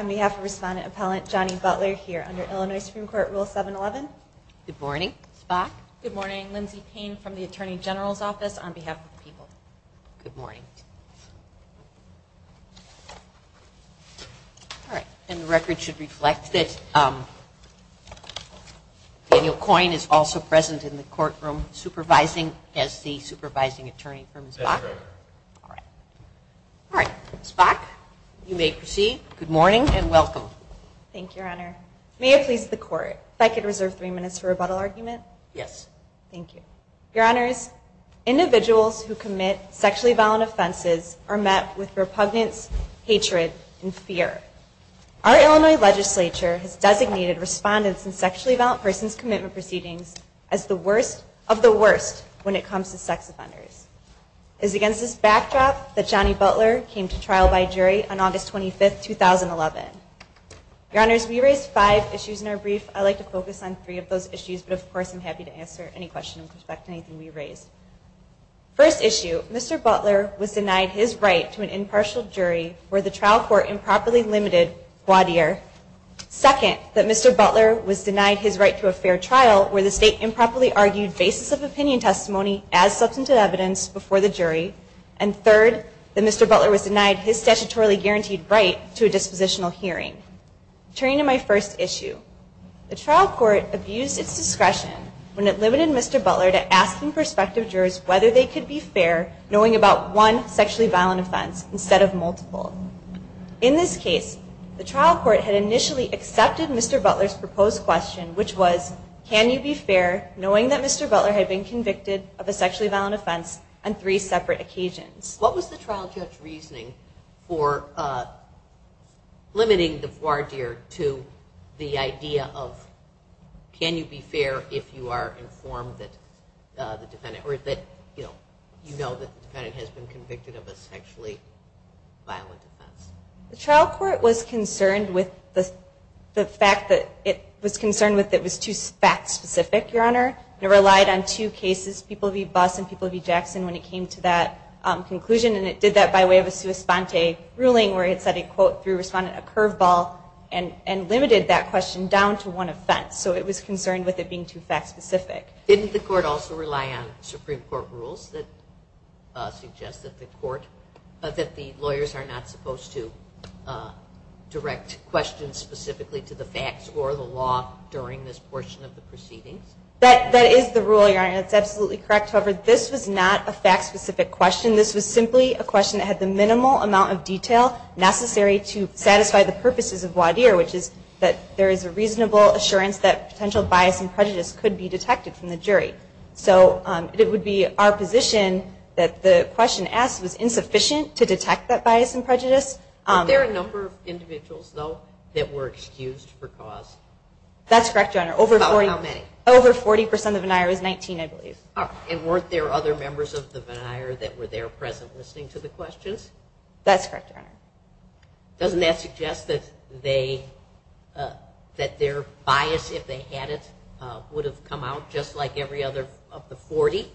on behalf of respondent appellant Johnny Butler here under Illinois Supreme Court rule 711. Good morning, Spock. Good morning, Lindsey Payne from the Attorney General's Office on behalf of the people. Good morning. All right. And the record should reflect that Daniel Coyne is also present in the courtroom supervising as the supervising attorney from Spock. All right. All right. Spock, you may proceed. Good morning and welcome. Thank you, Your Honor. May it please the court if I could reserve three minutes for rebuttal argument? Yes. Thank you. Your Honors, individuals who commit sexually violent offenses are not subject to the court's guidance that sexual assault offenses are met with repugnance, hatred, and fear. Our Illinois Legislature has designated respondents in sexually violent person's commitment proceedings as the worst of the worst when it comes to sex offenders. It is against this backdrop that Johnny Butler came to trial by jury on August 25th, 2011. Your Honors, we raised five issues in our brief. I'd like to focus on three of those issues, but of course I'm happy to answer any questions in respect to anything we raised. First issue, Mr. Butler was a impartial jury where the trial court improperly limited Gwadir. Second, that Mr. Butler was denied his right to a fair trial where the state improperly argued basis of opinion testimony as substantive evidence before the jury. And third, that Mr. Butler was denied his statutorily guaranteed right to a dispositional hearing. Turning to my first issue, the trial court abused its discretion when it limited Mr. Butler's proposed question, which was, can you be fair knowing about one sexually violent offense instead of multiple? In this case, the trial court had initially accepted Mr. Butler's proposed question, which was, can you be fair knowing that Mr. Butler had been convicted of a sexually violent offense on three separate occasions? What was the trial court's reasoning for limiting the Gwadir to the idea of, can you be fair knowing that Mr. Butler had been convicted of a sexually violent offense? The trial court was concerned with the fact that it was concerned with it was too fact-specific, Your Honor. It relied on two cases, people v. Buss and people v. Jackson, when it came to that conclusion, and it did that by way of a sua sponte ruling where it said it, quote, through responded, a curveball and limited that question down to one offense. So it was concerned with it being too fact-specific. Didn't the court also rely on Supreme Court rules that suggest that the court, that the lawyers are not supposed to direct questions specifically to the facts or the law during this portion of the proceedings? That is the rule, Your Honor, and it's absolutely correct. However, this was not a fact-specific question. This was simply a question that had the minimal amount of detail necessary to satisfy the purposes of Gwadir, which is that there is a reasonable assurance that potential bias and prejudice could be detected from the jury. So it would be our position that the question asked was insufficient to detect that bias and prejudice. Were there a number of individuals, though, that were excused for cause? That's correct, Your Honor. About how many? Over 40 percent of the Vennire was 19, I believe. And weren't there other members of the Vennire that were there present listening to the questions? That's correct, Your Honor. Doesn't that suggest that they, that their bias, if they had it, would have come out just like every other of the 40?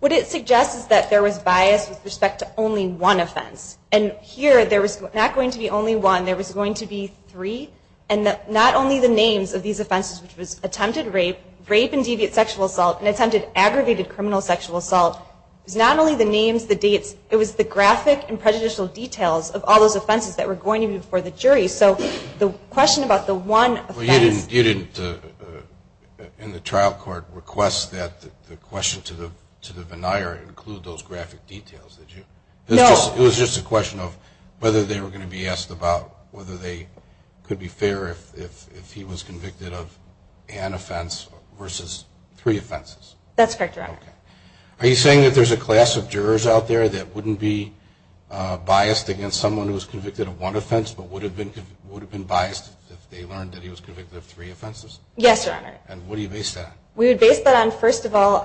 What it suggests is that there was a reasonable amount of bias with respect to only one offense. And here, there was not going to be only one. There was going to be three. And not only the names of these offenses, which was attempted rape, rape and deviant sexual assault, and attempted aggravated criminal sexual assault, it was not only the names, the dates, it was the graphic and prejudicial details of all those offenses that were going to be before the jury. So the question about the one offense... Well, you didn't, in the trial court, request that the question to the jury be about those graphic details, did you? No. It was just a question of whether they were going to be asked about whether they could be fair if he was convicted of an offense versus three offenses? That's correct, Your Honor. Are you saying that there's a class of jurors out there that wouldn't be biased against someone who was convicted of one offense, but would have been biased if they learned that he was convicted of three offenses? Yes, Your Honor. And what do you base that on? We would base that on, first of all,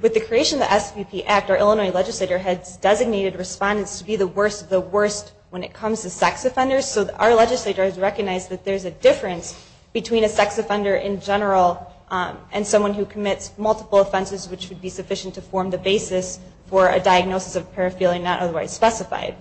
with the legislation, the SVP Act, our Illinois legislature has designated respondents to be the worst of the worst when it comes to sex offenders. So our legislature has recognized that there's a difference between a sex offender in general and someone who commits multiple offenses, which would be sufficient to form the basis for a diagnosis of paraphernalia not otherwise specified.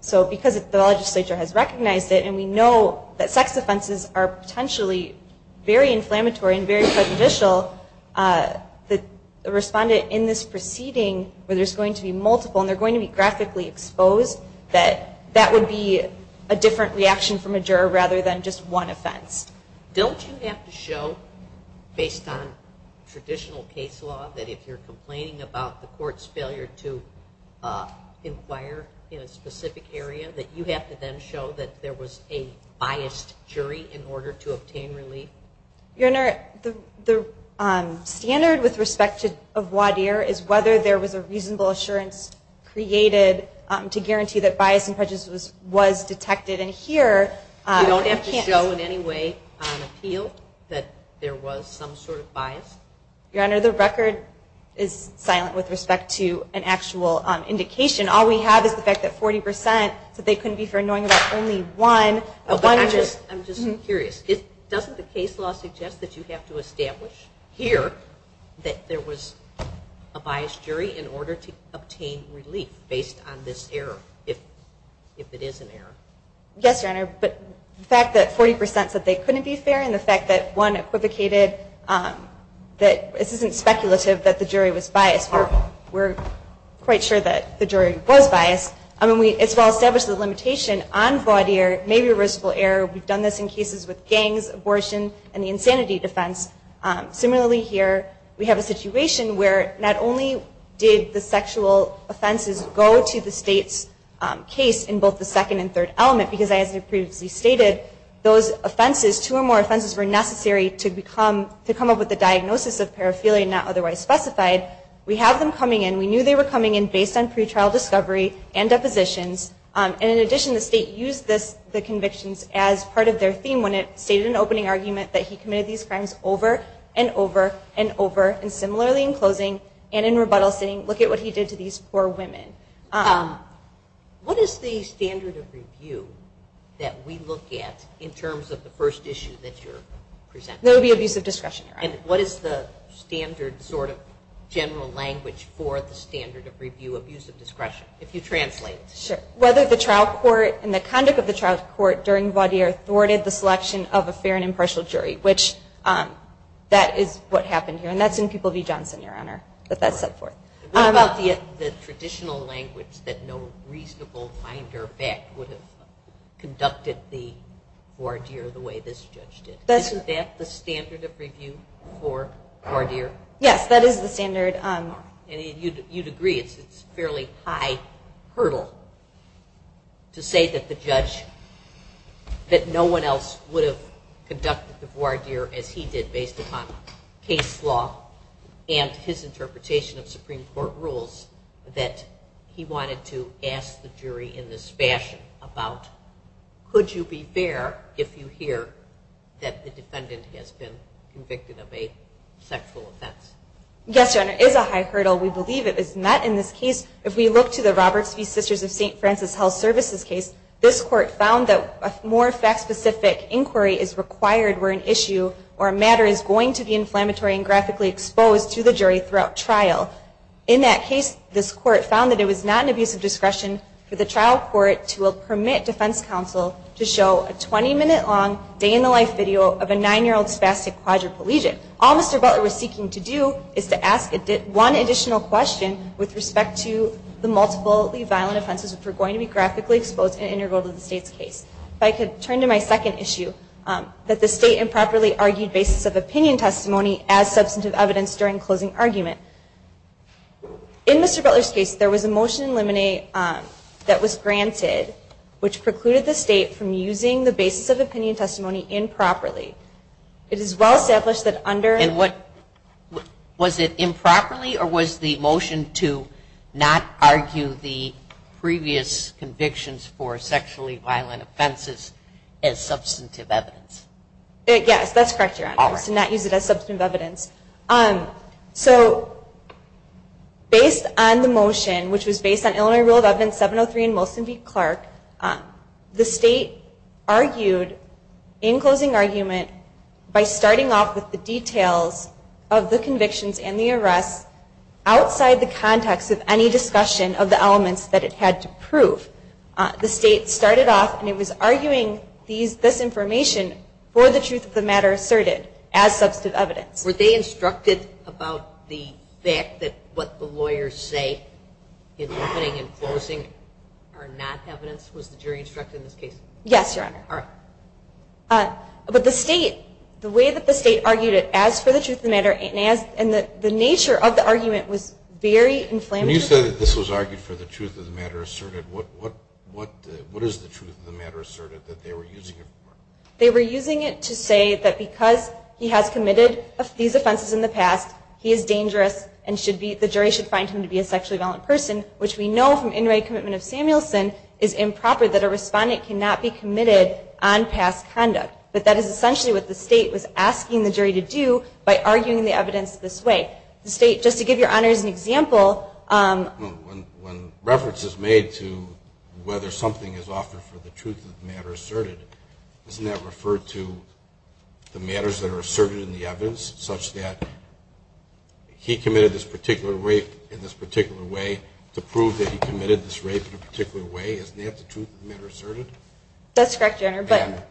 So because the legislature has recognized it, and we know that sex offenses are potentially very inflammatory and very prejudicial, the respondent in this proceeding, where there's going to be multiple and they're going to be graphically exposed, that that would be a different reaction from a juror rather than just one offense. Don't you have to show, based on traditional case law, that if you're complaining about the court's failure to inquire in a specific area, that you have to then show that there was a biased jury in this proceeding? Your Honor, the standard with respect to voir dire is whether there was a reasonable assurance created to guarantee that bias and prejudice was detected. And here... You don't have to show in any way on appeal that there was some sort of bias? Your Honor, the record is silent with respect to an actual indication. All we have is the fact that 40 percent said they couldn't be fair in knowing that only one... I'm just curious. Doesn't the case law suggest that you have to establish here that there was a biased jury in order to obtain relief based on this error, if it is an error? Yes, Your Honor, but the fact that 40 percent said they couldn't be fair and the fact that one equivocated, that this isn't speculative that the jury was biased. We're quite sure that the jury was biased. I mean, we as attorneys have established the limitation on voir dire, maybe a risk for error. We've done this in cases with gangs, abortion, and the insanity defense. Similarly here, we have a situation where not only did the sexual offenses go to the state's case in both the second and third element, because as I previously stated, those offenses, two or more offenses were necessary to come up with a diagnosis of paraphilia not otherwise specified. We have them coming in. We knew they were coming in based on pretrial discovery and depositions. And in addition, the state used the convictions as part of their theme when it stated in an opening argument that he committed these crimes over and over and over. And similarly in closing and in rebuttal sitting, look at what he did to these poor women. What is the standard of review that we look at in terms of the first issue that you're presenting? That would be abuse of discretion. And what is the standard sort of general language for the standard of review of use of discretion, if you translate? Sure. Whether the trial court and the conduct of the trial court during voir dire thwarted the selection of a fair and impartial jury, which that is what happened here. And that's in People v. Johnson, Your Honor, that that's set forth. What about the traditional language that no reasonable finder of fact would have conducted the voir dire the way this judge did? Isn't that the standard of review for voir dire? Yes, that is the standard. And you'd agree it's a fairly high hurdle to say that the judge, that no one else would have conducted the voir dire as he did based upon case law and his interpretation of Supreme Court rules, that he wanted to ask the jury in this fashion about could you be fair if you hear that the defendant has been convicted of a sexual offense? Yes, Your Honor, it is a high hurdle. We believe it is not in this case. If we look to the Roberts v. Sisters of St. Francis Health Services case, this court found that a more fact-specific inquiry is required where an issue or a matter is going to be inflammatory and graphically exposed to the jury throughout trial. In that case, this court found that it was not an abuse of discretion for the trial court to permit defense counsel to show a 20-minute-long, day-in-the-life video of a 9-year-old spastic quadriplegic. All Mr. Butler was seeking to do is to ask one additional question with respect to the multiply violent offenses which are going to be graphically exposed and integral to the state's case. If I could turn to my second issue, that the state improperly argued basis of opinion testimony as substantive evidence during closing argument. In Mr. Butler's case, there was a motion in limine that was granted which precluded the state from using the basis of opinion testimony improperly. It is well established that under... Was it improperly or was the motion to not argue the previous convictions for sexually violent offenses as substantive evidence? Yes, that's correct, Your Honor, to not use it as substantive evidence. Based on the motion, which was based on Illinois Rule of Evidence 703 in Molson v. Clark, the state argued in closing argument by starting off with the details of the convictions and the arrests outside the context of any discussion of the elements that it had to prove. The state started off, and it was arguing this information outside the context of any discussion of the elements that it had to prove, for the truth of the matter asserted, as substantive evidence. Were they instructed about the fact that what the lawyers say in opening and closing are not evidence? Was the jury instructed in this case? Yes, Your Honor. But the way that the state argued it, as for the truth of the matter, and the nature of the argument was very inflammatory. When you said that this was argued for the truth of the matter asserted, what is the truth of the matter asserted that they were using it for? They were using it to say that because he has committed these offenses in the past, he is dangerous and the jury should find him to be a sexually violent person, which we know from In Re Commitment of Samuelson is improper, that a respondent cannot be committed on past conduct. But that is essentially what the state was asking the jury to do by arguing the evidence this way. The state, just to give Your Honor as an example... When reference is made to whether something is offered for the truth of the matter asserted, isn't that referred to the matters that are asserted in the evidence, such that he committed this particular rape in this particular way to prove that he committed this rape in a particular way? Isn't that the truth of the matter asserted? That's correct, Your Honor.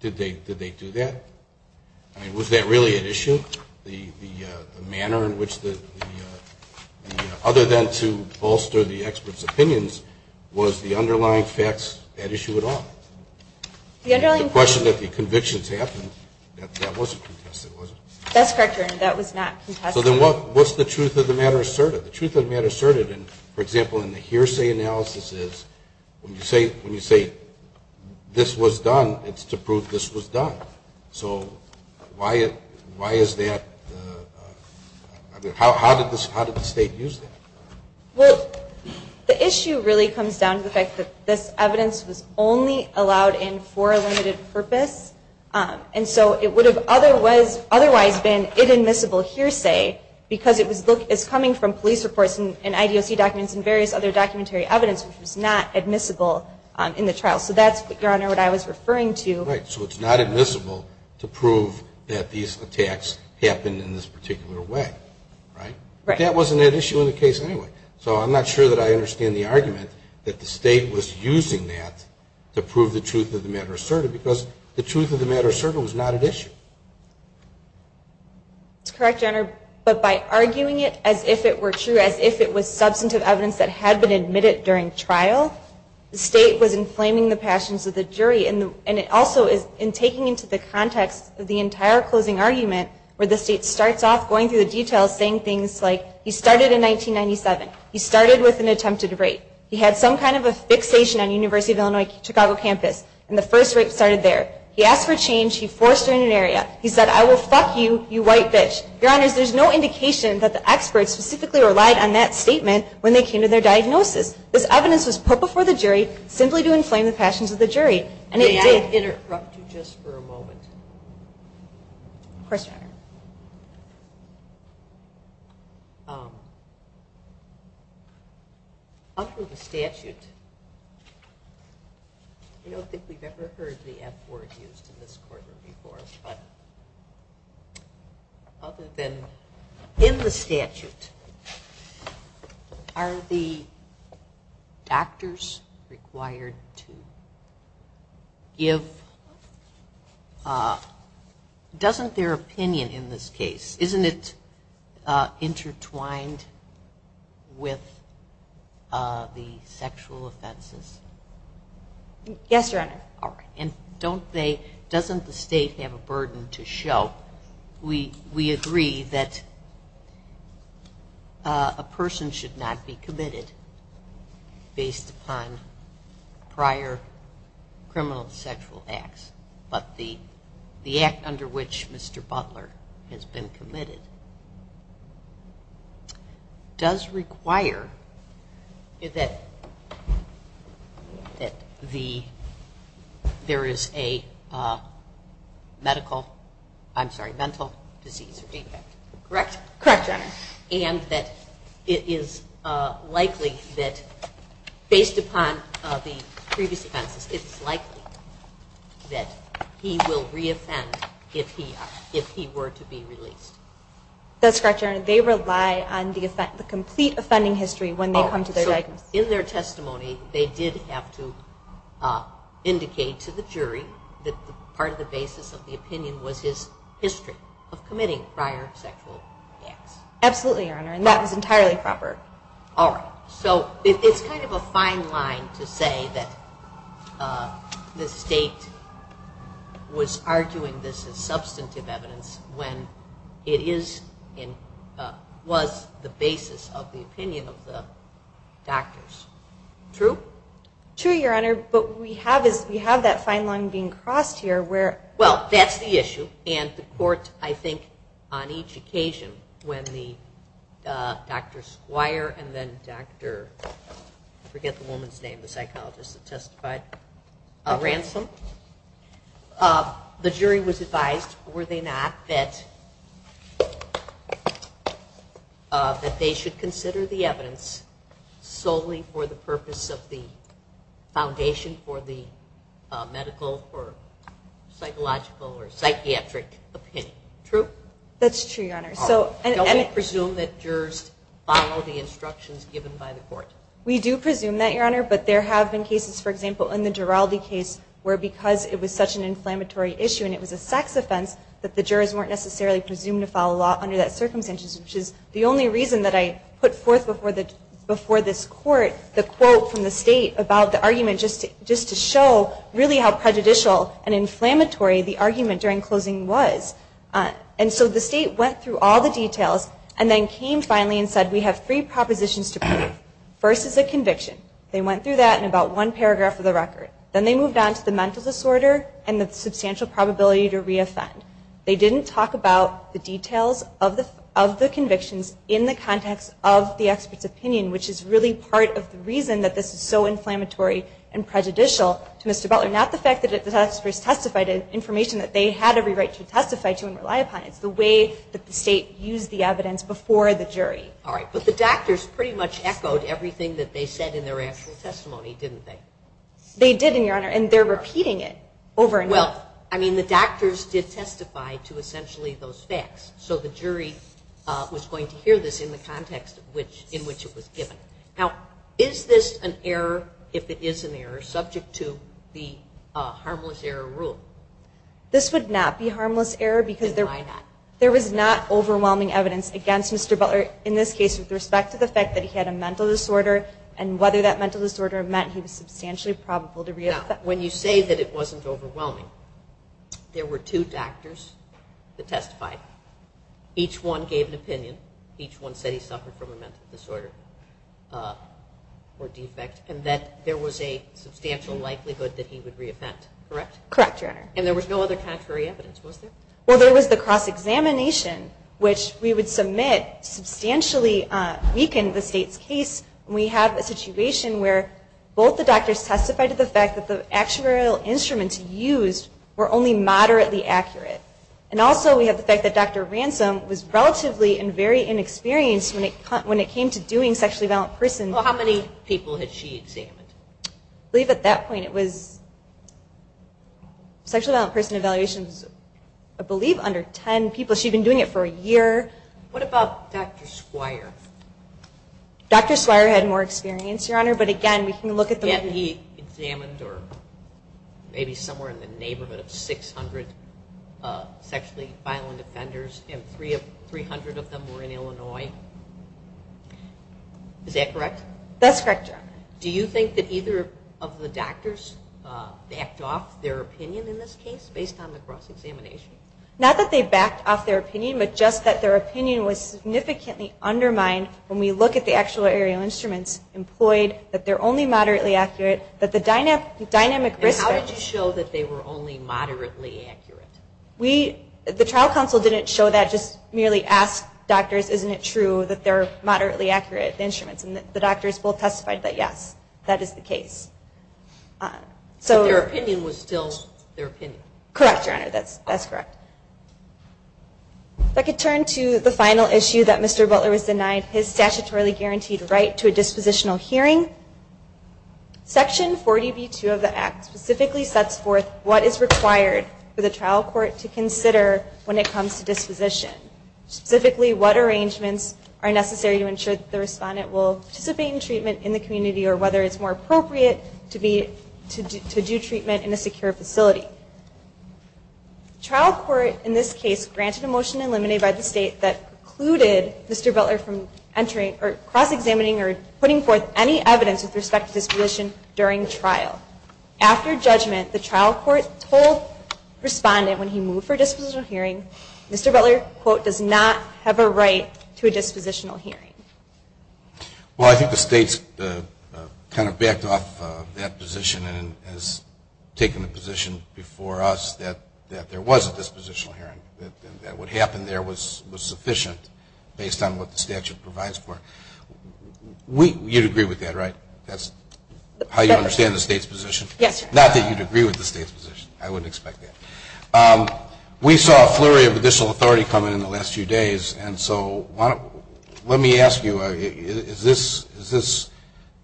Did they do that? Was that really at issue? The manner in which the... Other than to bolster the expert's opinions, was the underlying facts at issue at all? The underlying facts... The question that the convictions happened, that wasn't contested, was it? That's correct, Your Honor. That was not contested. So then what's the truth of the matter asserted? The truth of the matter asserted, for example, in the hearsay analysis, is when you say this was done, it's to prove this was done. So why is that... How did the state use that? Well, the issue really comes down to the fact that this evidence was only allowed in for a limited purpose. And so it would have otherwise been inadmissible hearsay because it was coming from police reports and IDOC documents and various other documentary evidence, which was not admissible in the trial. So that's, Your Honor, what I was referring to. Right. So it's not admissible to prove that these attacks happened in this particular way, right? But that wasn't at issue in the case anyway. So I'm not sure that I understand the argument that the state was using that to prove that the truth of the matter asserted was not at issue. That's correct, Your Honor. But by arguing it as if it were true, as if it was substantive evidence that had been admitted during trial, the state was inflaming the passions of the jury. And it also is, in taking into the context of the entire closing argument, where the state starts off going through the details saying things like, he started in 1997. He started with an attempted rape. He had some kind of a fixation on University of Illinois Chicago campus. And the first rape started there. He asked for change. He forced her in an area. He said, I will fuck you, you white bitch. Your Honor, there's no indication that the experts specifically relied on that statement when they came to their diagnosis. This evidence was put before the jury simply to inflame the passions of the jury. May I interrupt you just for a moment? Of course, Your Honor. Under the statute, I don't think we've ever heard the F word used in this courtroom before, but other than in the statute, are the doctors required to give, doesn't their opinion exist? Isn't it intertwined with the sexual offenses? Yes, Your Honor. And doesn't the state have a burden to show, we agree that a person should not be committed based upon prior criminal sexual acts, but the act under which Mr. Butler has been committed does require that there is a medical, I'm sorry, mental disease. Correct? Correct, Your Honor. And that it is likely that based upon the previous offenses, it's likely that he will re-offend if he were to be released. That's correct, Your Honor. They rely on the complete offending history when they come to their diagnosis. In their testimony, they did have to indicate to the jury that part of the basis of the opinion was his history of committing prior sexual acts. Absolutely, Your Honor, and that was entirely proper. All right, so it's kind of a fine line to say that the state was arguing this as substantive evidence when it was the basis of the opinion of the doctor. True? True, Your Honor, but we have that fine line being crossed here. Well, that's the issue, and the court, I think, on each occasion, when Dr. Squire and then Dr. I forget the woman's name, the psychologist that testified, Ransom, the jury was advised, were they not, that they should consider the evidence solely for the purpose of the foundation for the medical or psychological or psychiatric opinion. True? True, Your Honor, and that's because it was such an inflammatory issue and it was a sex offense that the jurors weren't necessarily presumed to follow law under that circumstances, which is the only reason that I put forth before this court the quote from the state about the argument just to show really how prejudicial and inflammatory the argument during closing was. And so the state went through all the details and then came finally and said, we have three propositions to prove. First is a conviction, they went through that in about one paragraph of the record, then they moved on to the mental disorder and the substantial probability to re-offend. They didn't talk about the details of the convictions in the context of the expert's opinion, which is really part of the reason that this is so inflammatory and prejudicial to Mr. Butler, not the fact that the testifiers testified in information that they had every right to testify to and rely upon, it's the way that the state used the evidence before the jury. But they did provide everything that they said in their actual testimony, didn't they? They did, Your Honor, and they're repeating it over and over. Well, I mean, the doctors did testify to essentially those facts, so the jury was going to hear this in the context in which it was given. Now, is this an error, if it is an error, subject to the harmless error rule? This would not be harmless error because there was not overwhelming evidence against Mr. Butler in this case with respect to the fact that he had a mental disorder. And whether that mental disorder meant he was substantially probable to re-offend. Now, when you say that it wasn't overwhelming, there were two doctors that testified. Each one gave an opinion, each one said he suffered from a mental disorder or defect, and that there was a substantial likelihood that he would re-offend, correct? Correct, Your Honor. And there was no other contrary evidence, was there? Well, there was the cross-examination, which we would submit substantially weakened the state's case, and we have a situation where both the doctors testified to the fact that the actuarial instruments used were only moderately accurate. And also we have the fact that Dr. Ransom was relatively and very inexperienced when it came to doing sexually violent persons. Well, how many people had she examined? I believe at that point it was, sexually violent person evaluations, I believe under 10 people. She had been doing it for a year. What about Dr. Squire? Dr. Squire had more experience, Your Honor, but again we can look at the... Yet he examined maybe somewhere in the neighborhood of 600 sexually violent offenders, and 300 of them were in Illinois. Is that correct? That's correct, Your Honor. Do you think that either of the doctors backed off their opinion in this case based on the cross-examination? Not that they backed off their opinion, but just that their opinion was significantly undermined when we look at the actual aerial instruments employed, that they're only moderately accurate, that the dynamic risk... And how did you show that they were only moderately accurate? The trial counsel didn't show that, just merely ask doctors, isn't it true that they're moderately accurate instruments? And the doctors both testified that yes, that is the case. But their opinion was still their opinion. Correct, Your Honor, that's correct. If I could turn to the final issue that Mr. Butler was denied, his statutorily guaranteed right to a dispositional hearing. Section 40b-2 of the Act specifically sets forth what is required for the trial court to consider when it comes to disposition. Specifically what arrangements are necessary to ensure that the respondent will participate in treatment in the community, or whether it's more appropriate to do treatment in a secure facility. Trial court in this case granted a motion to eliminate by the state that precluded Mr. Butler from entering, or cross-examining, or putting forth any evidence with respect to disposition during trial. After judgment, the trial court told the respondent when he moved for a dispositional hearing, Mr. Butler, quote, does not have a right to a dispositional hearing. Well, I think the state's kind of backed off that position and has taken the position before us that there was a dispositional hearing. That what happened there was sufficient based on what the statute provides for. You'd agree with that, right? That's how you understand the state's position? Yes, sir. Not that you'd agree with the state's position. I wouldn't expect that. We saw a flurry of additional authority coming in the last few days, and so let me ask you, is this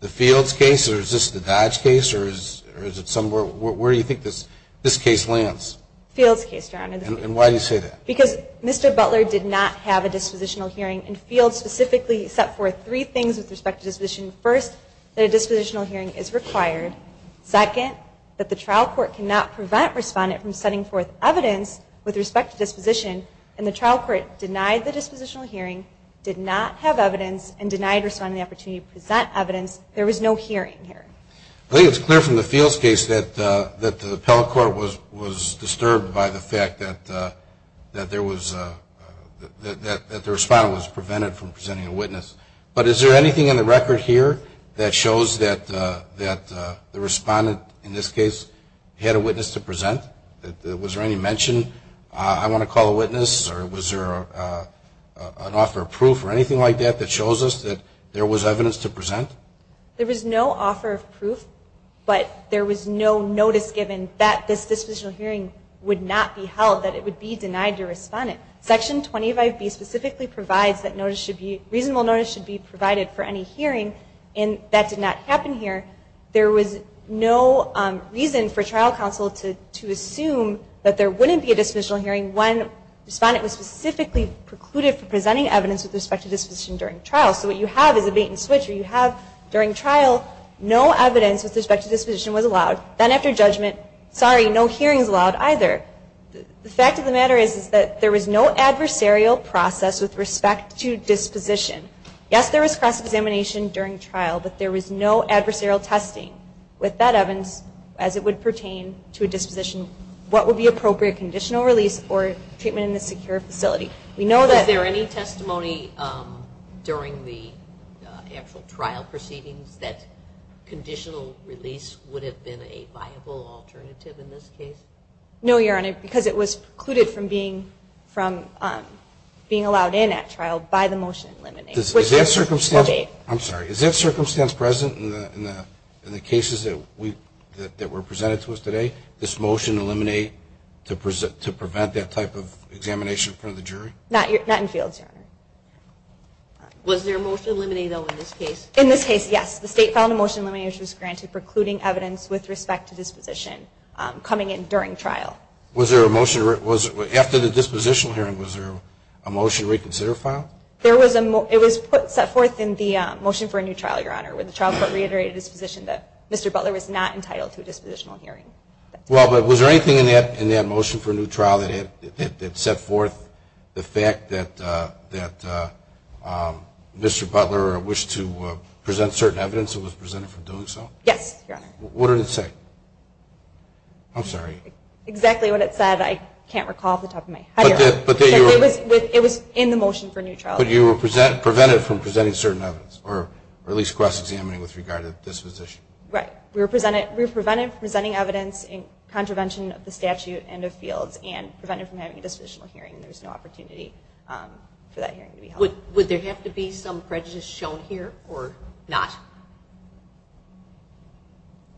the Fields case, or is this the Dodge case, or is it somewhere, where do you think this case lands? Fields case, Your Honor. And why do you say that? Because Mr. Butler did not have a dispositional hearing, and Fields specifically set forth three things with respect to disposition. First, that a dispositional hearing is required. Second, that the trial court cannot prevent respondent from setting forth evidence with respect to disposition, and the trial court denied the dispositional hearing, did not have evidence, and denied respondent the opportunity to present evidence. There was no hearing here. That there was, that the respondent was prevented from presenting a witness, but is there anything in the record here that shows that the respondent, in this case, had a witness to present? Was there any mention, I want to call a witness, or was there an offer of proof or anything like that that shows us that there was evidence to present? There was no offer of proof, but there was no notice given that this dispositional hearing would not be held, that it would not be held. It would be denied to respondent. Section 25B specifically provides that reasonable notice should be provided for any hearing, and that did not happen here. There was no reason for trial counsel to assume that there wouldn't be a dispositional hearing when respondent was specifically precluded from presenting evidence with respect to disposition during trial. So what you have is a bait and switch, or you have during trial, no evidence with respect to disposition was allowed. Then after judgment, sorry, no hearing is allowed either. The fact of the matter is that there was no adversarial process with respect to disposition. Yes, there was cross-examination during trial, but there was no adversarial testing with that evidence as it would pertain to a disposition, what would be appropriate conditional release or treatment in a secure facility. Was there any testimony during the actual trial proceedings that conditional release would have been a viable alternative in this case? No, Your Honor, because it was precluded from being allowed in at trial by the motion to eliminate. Is that circumstance present in the cases that were presented to us today, this motion to eliminate to prevent that type of examination in front of the jury? Not in fields, Your Honor. Was there a motion to eliminate, though, in this case? In this case, yes, the state filed a motion to eliminate which was granted precluding evidence with respect to disposition coming in during trial. Was there a motion, after the dispositional hearing, was there a motion to reconsider file? It was put, set forth in the motion for a new trial, Your Honor, where the trial court reiterated its position that Mr. Butler was not entitled to a dispositional hearing. Well, but was there anything in that motion for a new trial that set forth the fact that Mr. Butler wished to proceed with a new trial? Present certain evidence that was presented for doing so? Yes, Your Honor. What did it say? I'm sorry. Exactly what it said. I can't recall off the top of my head. It was in the motion for a new trial. But you were prevented from presenting certain evidence, or at least cross-examining with regard to disposition? Right. We were prevented from presenting evidence in contravention of the statute and of fields, and prevented from having a dispositional hearing. There was no opportunity for that hearing to be held. Would there have to be some prejudice shown here, or not?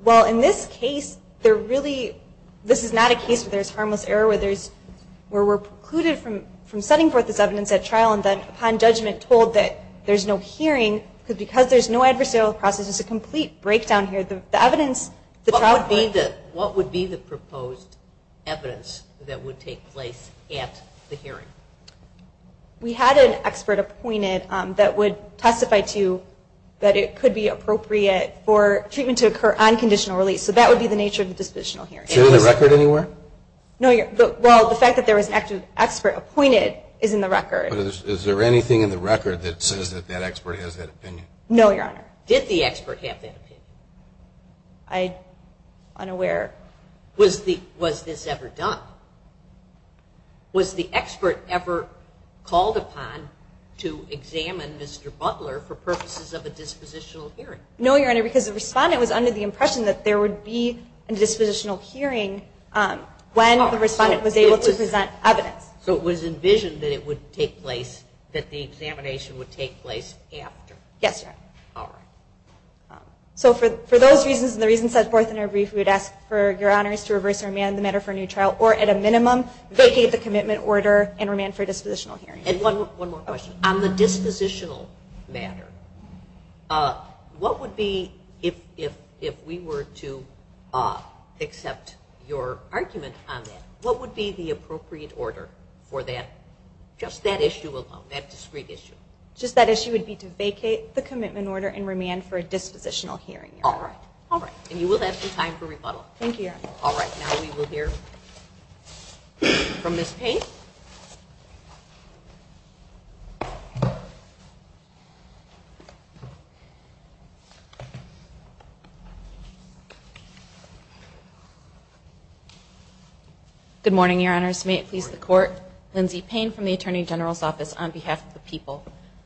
Well, in this case, there really, this is not a case where there's harmless error, where we're precluded from setting forth this evidence at trial, and then, upon judgment, told that there's no hearing, because there's no adversarial process. There's a complete breakdown here. What would be the proposed evidence that would take place at the hearing? We had an expert appointed that would testify to that it could be appropriate for treatment to occur on conditional release. So that would be the nature of the dispositional hearing. Is it in the record anywhere? No, Your Honor. Did the expert have that opinion? Was this ever done? Was the expert ever called upon to examine Mr. Butler for purposes of a dispositional hearing? No, Your Honor, because the respondent was under the impression that there would be a dispositional hearing when the respondent was able to present evidence. So it was envisioned that it would take place, that the examination would take place after? Yes, Your Honor. So for those reasons, and the reasons set forth in our brief, we would ask for Your Honors to reverse or remand the matter for a new trial, or at a minimum, vacate the commitment order and remand for a dispositional hearing. And one more question. On the dispositional matter, what would be, if we were to accept your argument on that, what would be the appropriate order for that, just that issue alone, that discrete issue? Just that issue would be to vacate the commitment order and remand for a dispositional hearing, Your Honor. All right, and you will have some time for rebuttal. Thank you, Your Honor. All right, now we will hear from Ms. Payne. Good morning, Your Honors. May it please the Court, Lindsay Payne from the Attorney General's Office on behalf of the people.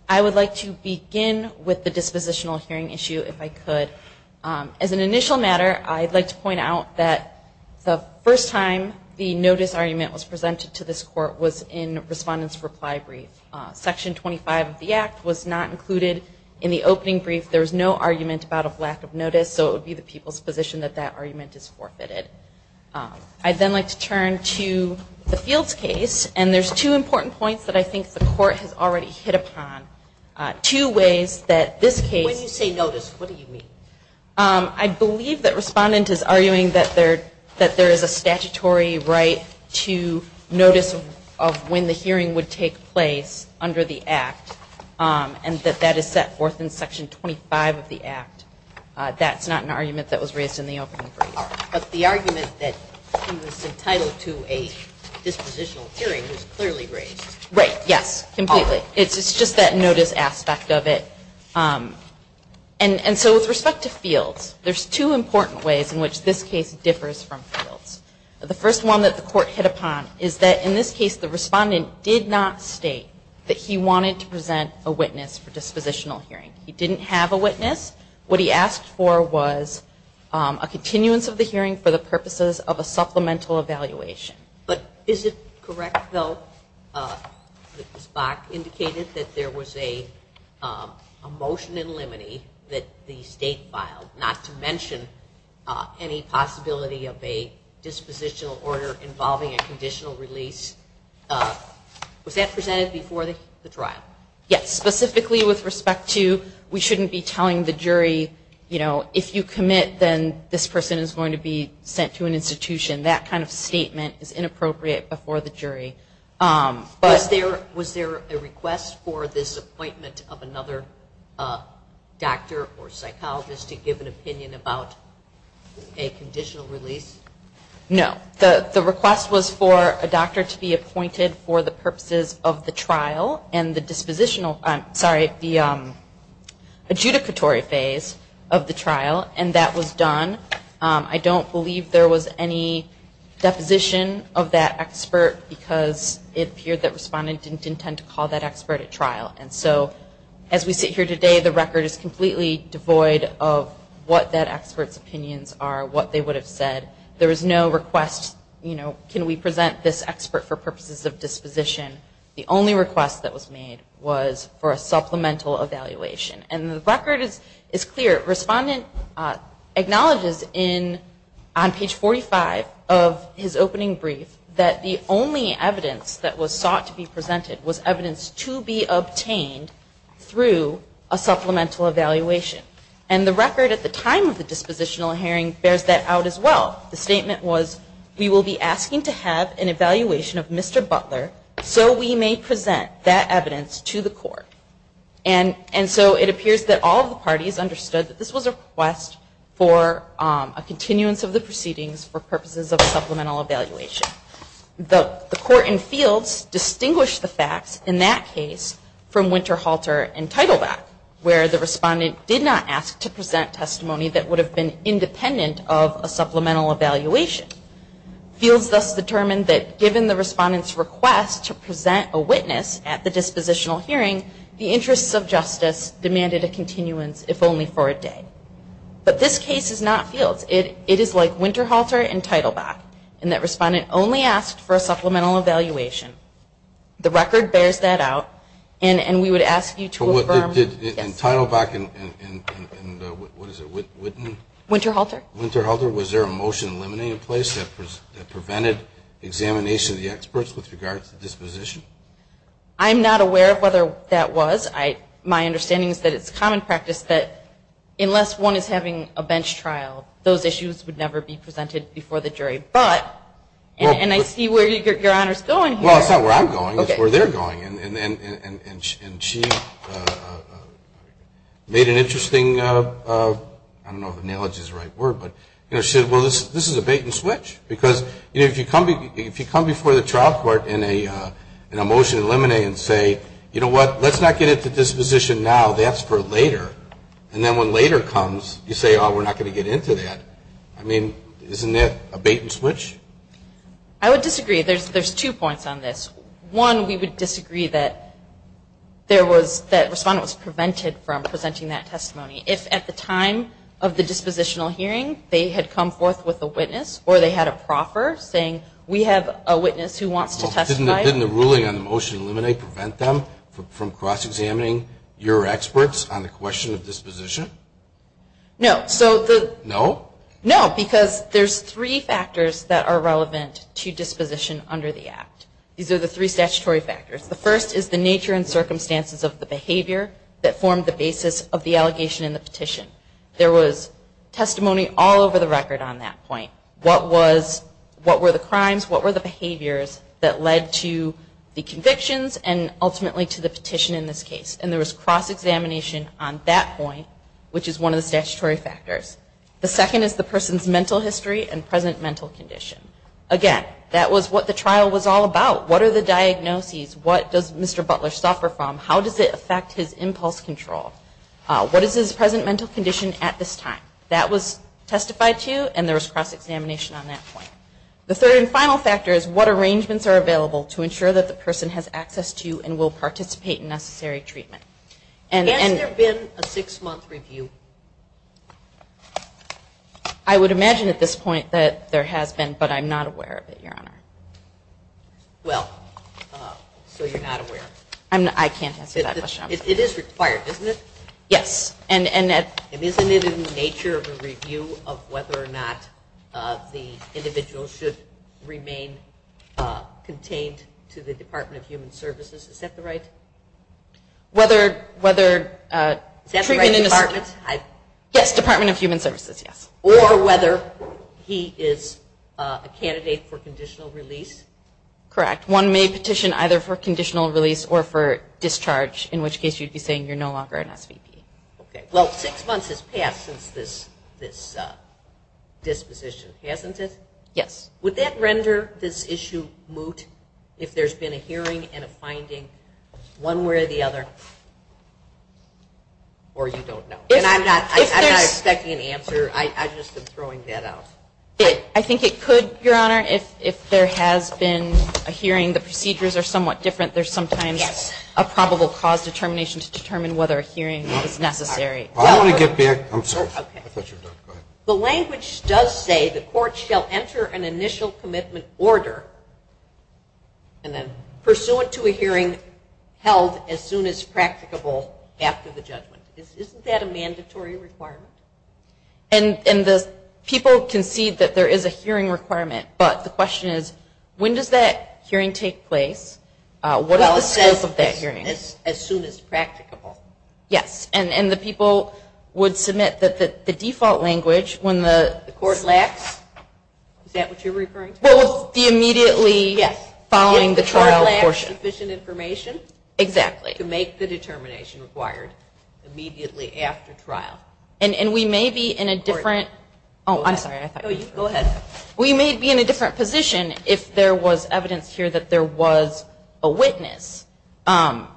I would like to begin with the dispositional hearing issue, if I could. As an initial matter, I'd like to point out that the first time the notice argument was presented to this Court was in Respondent's Reply Brief. Section 25 of the Act was not included in the opening brief. There was no argument about a lack of notice, so it would be the people's position that that argument is forfeited. I'd then like to turn to the Fields case, and there's two important points that I think the Court has already hit upon. Two ways that this case When you say notice, what do you mean? I believe that Respondent is arguing that there is a statutory right to notice of when the hearing would take place under the Act, and that that is set forth in Section 25 of the Act. That's not an argument that was raised in the opening brief. But the argument that he was entitled to a dispositional hearing was clearly raised. Right, yes, completely. It's just that notice aspect of it. And so with respect to Fields, there's two important ways in which this case differs from Fields. The first one that the Court hit upon is that in this case the Respondent did not state that he wanted to present a witness for dispositional hearing. He didn't have a witness. What he asked for was a continuance of the hearing for the purposes of a supplemental evaluation. But is it correct, though, that Ms. Bach indicated that there was a motion in limine that the State filed not to mention any possibility of a dispositional order involving a conditional release? Was that presented before the trial? No, it wasn't. It was presented before the jury, you know, if you commit, then this person is going to be sent to an institution. That kind of statement is inappropriate before the jury. Was there a request for this appointment of another doctor or psychologist to give an opinion about a conditional release? No. The request was for a doctor to be appointed for the purposes of the trial and the adjudicatory phase of the trial, and that was done. I don't believe there was any deposition of that expert because it appeared that Respondent didn't intend to call that expert at trial. And so as we sit here today, the record is completely devoid of what that expert's opinions are, what they would have said. There was no request, you know, can we present this expert for purposes of disposition. The only request that was made was for a supplemental evaluation, and the record is clear. Respondent acknowledges on page 45 of his opening brief that the only evidence that was sought to be presented was evidence to be obtained through a supplemental evaluation. And the record at the time of the dispositional hearing bears that out as well. The statement was, we will be asking to have an evaluation of Mr. Butler so we may present that evidence to the court. And so it appears that all of the parties understood that this was a request for a continuance of the proceedings for purposes of a supplemental evaluation. The court in fields distinguished the facts in that case from Winterhalter and Teitelbach, where the Respondent did not want to present that evidence. The Court did not ask to present testimony that would have been independent of a supplemental evaluation. Fields thus determined that given the Respondent's request to present a witness at the dispositional hearing, the interests of justice demanded a continuance, if only for a day. But this case is not fields. It is like Winterhalter and Teitelbach, in that Respondent only asked for a supplemental evaluation. The record bears that out, and we would ask you to affirm... Winterhalter? I'm not aware of whether that was. My understanding is that it's common practice that unless one is having a bench trial, those issues would never be presented before the jury. But, and I see where Your Honor is going here. Well, it's not where I'm going, it's where they're going. And she made an interesting, I don't know if analogy is the right word, but she said, well, this is a bait and switch. Because if you come before the trial court in a motion to eliminate and say, you know what, let's not get into disposition now, that's for later. And then when later comes, you say, oh, we're not going to get into that. And that's a bait and switch? I would disagree. There's two points on this. One, we would disagree that Respondent was prevented from presenting that testimony. If at the time of the dispositional hearing, they had come forth with a witness, or they had a proffer, saying, we have a witness who wants to testify. Didn't the ruling on the motion to eliminate prevent them from cross-examining your experts on the question of disposition? These are the three statutory factors. The first is the nature and circumstances of the behavior that formed the basis of the allegation and the petition. There was testimony all over the record on that point. What were the crimes, what were the behaviors that led to the convictions and ultimately to the petition in this case? And there was cross-examination on that point, which is one of the statutory factors. The second is the person's mental history and present mental condition. Again, that was what the trial was all about. What are the diagnoses? What does Mr. Butler suffer from? How does it affect his impulse control? What is his present mental condition at this time? That was testified to, and there was cross-examination on that point. The third and final factor is what arrangements are available to ensure that the person has access to and will participate in necessary treatment. Has there been a six-month review? I would imagine at this point that there has been, but I'm not aware of it, Your Honor. Well, so you're not aware. I can't answer that question. It is required, isn't it? Yes. And isn't it in the nature of a review of whether or not the individual should remain contained to the Department of Human Services? Is that the right department? Yes, Department of Human Services. Or whether he is a candidate for conditional release? Correct. One may petition either for conditional release or for discharge, in which case you'd be saying you're no longer an SVP. Well, six months has passed since this disposition, hasn't it? Yes. Would that render this issue moot if there's been a hearing and a finding one way or the other? Or you don't know? I'm not expecting an answer. I've just been throwing that out. I think it could, Your Honor, if there has been a hearing. The procedures are somewhat different. There's sometimes a probable cause determination to determine whether a hearing is necessary. I'm sorry. The language does say the court shall enter an initial commitment order pursuant to a hearing held as soon as practicable after the judgment. Isn't that a mandatory requirement? People concede that there is a hearing requirement, but the question is, when does that hearing take place? As soon as practicable. Yes. And the people would submit that the default language, when the court lacks, is that what you're referring to? Well, the immediately following the trial portion. If the court lacks sufficient information to make the determination required immediately after trial. And we may be in a different position if there was evidence here that there was a witness. Well,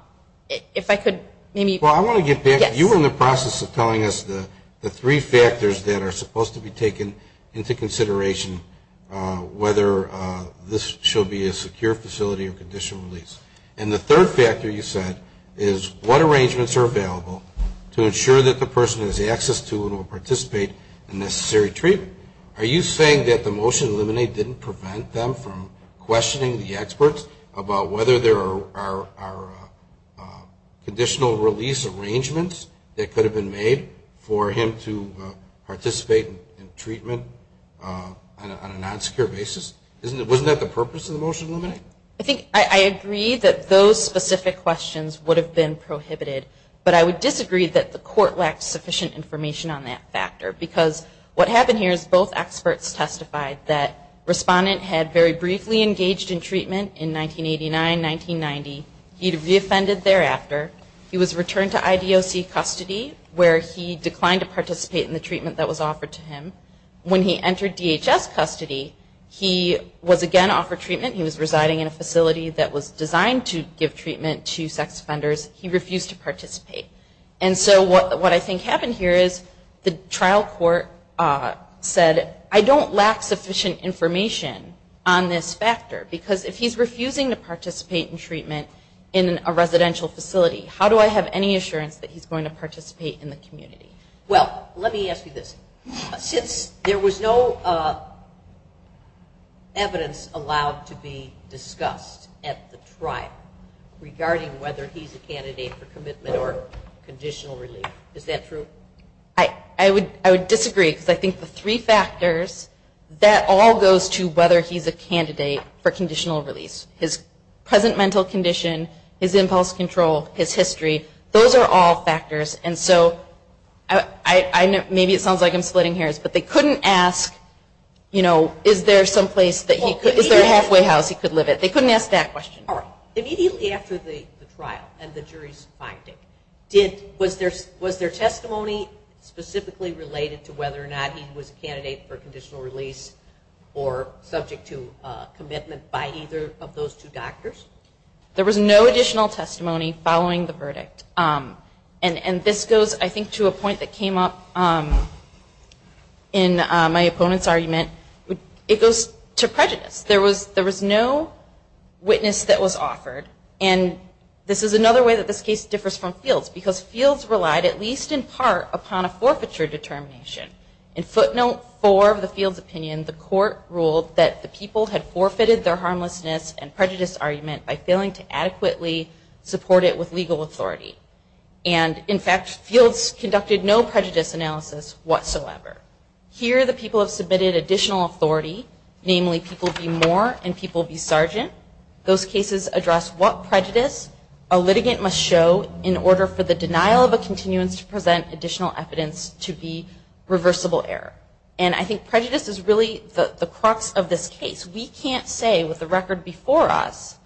I want to get back. You were in the process of telling us the three factors that are supposed to be taken into consideration, whether this shall be a secure facility or conditional release. And the third factor, you said, is what arrangements are available to ensure that the person has access to and will participate in necessary treatment. Are you saying that the motion to eliminate didn't prevent them from questioning the experts about whether there are conditional release arrangements that could have been made for him to participate in treatment on a non-secure basis? Wasn't that the purpose of the motion to eliminate? I think I agree that those specific questions would have been prohibited. But I would disagree that the court lacked sufficient information on that factor. Because what happened here is both experts testified that the respondent had very briefly engaged in treatment in 1989, 1990. He was reoffended thereafter. He was returned to IDOC custody where he declined to participate in the treatment that was offered to him. When he entered DHS custody, he was again offered treatment. He was residing in a facility that was designed to give treatment to sex offenders. He refused to participate. And so what I think happened here is the trial court said, I don't lack sufficient information on this factor. Because if he's refusing to participate in treatment in a residential facility, how do I have any assurance that he's going to participate in the community? Well, let me ask you this. Since there was no evidence allowed to be discussed at the trial regarding whether he's a candidate for commitment or conditional relief, is that true? I would disagree. Because I think the three factors, that all goes to whether he's a candidate for conditional release. His present mental condition, his impulse control, his history, those are all factors. And so maybe it sounds like I'm splitting hairs, but they couldn't ask, you know, is there some place that he could, is there a halfway house he could live at? They couldn't ask that question. Immediately after the trial and the jury's finding, was there testimony specifically related to whether or not he was a candidate for conditional release or subject to commitment by either of those two doctors? There was no additional testimony following the verdict. And this goes, I think, to a point that came up in my opponent's argument. It goes to prejudice. There was no witness that was offered. And this is another way that this case differs from Fields. Because Fields relied, at least in part, upon a forfeiture determination. In footnote four of the Fields opinion, the court ruled that the people had forfeited their harmlessness and prejudice argument by failing to adequately support it with legal authority. And, in fact, Fields conducted no prejudice analysis whatsoever. Here the people have submitted additional authority, namely people be more and people be sergeant. Those cases address what prejudice a litigant must show in order for the denial of a continuance to present additional evidence to be reversible error. And I think prejudice is really the crux of this case. We can't say with the record before us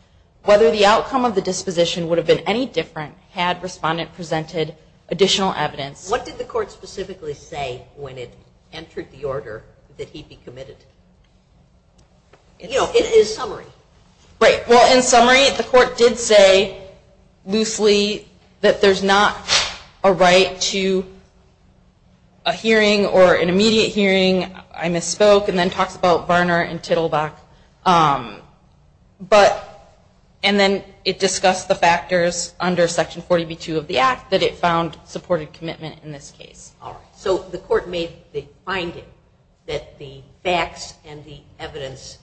whether the outcome of the disposition would have been any different had respondent presented additional evidence. What did the court specifically say when it entered the order that he be committed? You know, it is summary. Well, in summary, the court did say loosely that there is not a right to a hearing or an immediate hearing. I misspoke. And then it discussed the factors under section 40B2 of the act that it found supported commitment in this case. All right. So the court made the finding that the facts and the evidence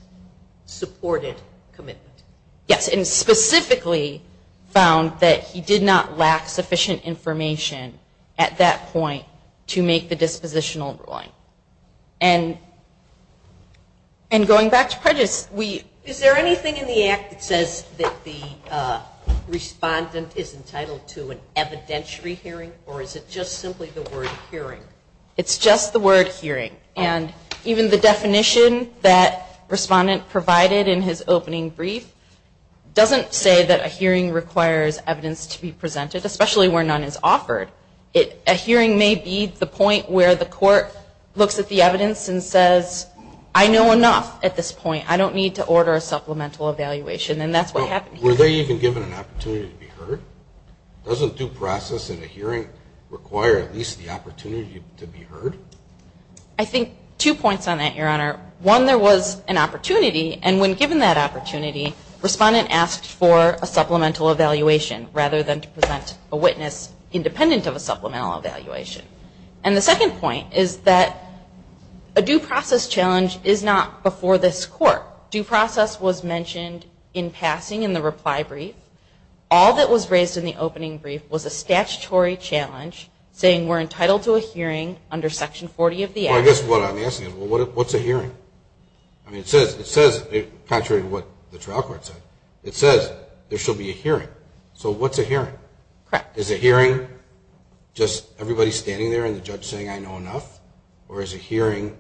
supported commitment. Yes, and specifically found that he did not lack sufficient information at that point to make the dispositional ruling. And going back to prejudice, is there anything in the act that says that the respondent is entitled to an evidentiary hearing? Or is it just simply the word hearing? It's just the word hearing. And even the definition that respondent provided in his opening brief doesn't say that a hearing requires evidence to be presented, especially where none is offered. A hearing may be the point where the court looks at the evidence and says, I know enough at this point. I don't need to order a supplemental evaluation. Were they even given an opportunity to be heard? Doesn't due process in a hearing require at least the opportunity to be heard? I think two points on that, Your Honor. One, there was an opportunity, and when given that opportunity, respondent asked for a supplemental evaluation, rather than to present a witness independent of a supplemental evaluation. And the second point is that a due process challenge is not before this court. Due process was mentioned in passing in the reply brief. All that was raised in the opening brief was a statutory challenge, saying we're entitled to a hearing under Section 40 of the Act. Well, I guess what I'm asking is, what's a hearing? Contrary to what the trial court said, it says there shall be a hearing. So what's a hearing? Is a hearing just everybody standing there and the judge saying, I know enough? Or is a hearing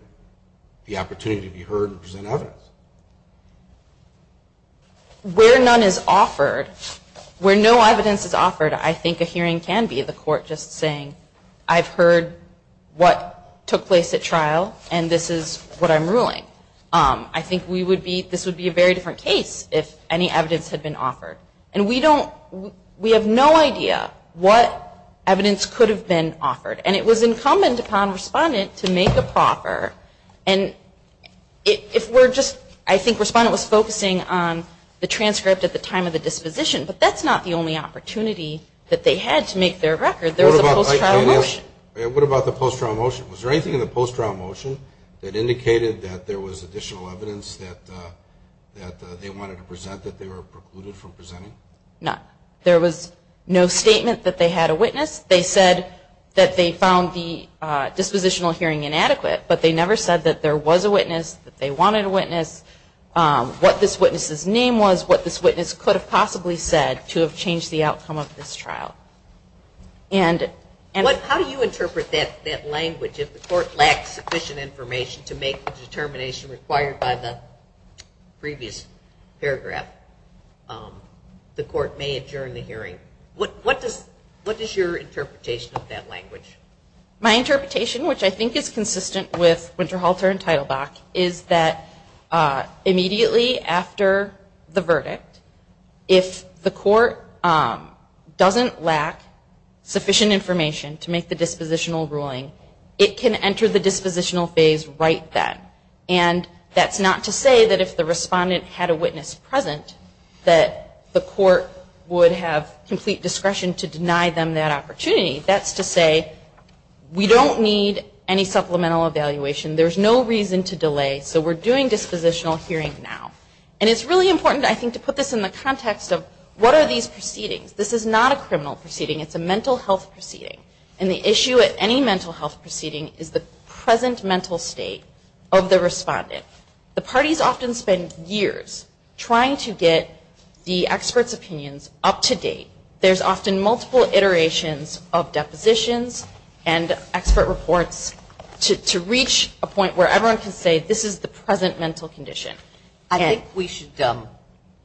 the opportunity to be heard and present evidence? Where none is offered, where no evidence is offered, I think a hearing can be the court just saying, I've heard what took place at trial, and this is what I'm ruling. I think this would be a very different case if any evidence had been offered. And we have no idea what evidence could have been offered. And it was incumbent upon respondent to make a proffer. I think respondent was focusing on the transcript at the time of the disposition, but that's not the only opportunity that they had to make their record. What about the post-trial motion? Was there anything in the post-trial motion that indicated that there was additional evidence that they wanted to present, that they were precluded from presenting? None. There was no statement that they had a witness. They said that they found the dispositional hearing inadequate, but they never said that there was a witness, that they wanted a witness, what this witness's name was, what this witness could have possibly said to have changed the outcome of this trial. How do you interpret that language? If the court lacks sufficient information to make the determination required by the previous paragraph, the court may adjourn the hearing. What is your interpretation of that language? My interpretation, which I think is consistent with Winterhalter and Teitelbach, is that immediately after the verdict, if the court doesn't lack sufficient information to make the dispositional ruling, it can enter the dispositional phase right then. And that's not to say that if the respondent had a witness present, that the court would have complete discretion to deny them that opportunity. That's to say, we don't need any supplemental evaluation. There's no reason to delay, so we're doing dispositional hearing now. And it's really important, I think, to put this in the context of, what are these proceedings? This is not a criminal proceeding, it's a mental health proceeding. And the issue at any mental health proceeding is the present mental state of the respondent. The parties often spend years trying to get the expert's opinions up to date. There's often multiple iterations of depositions and expert reports to reach a point where everyone can say, this is the present mental condition. I think we should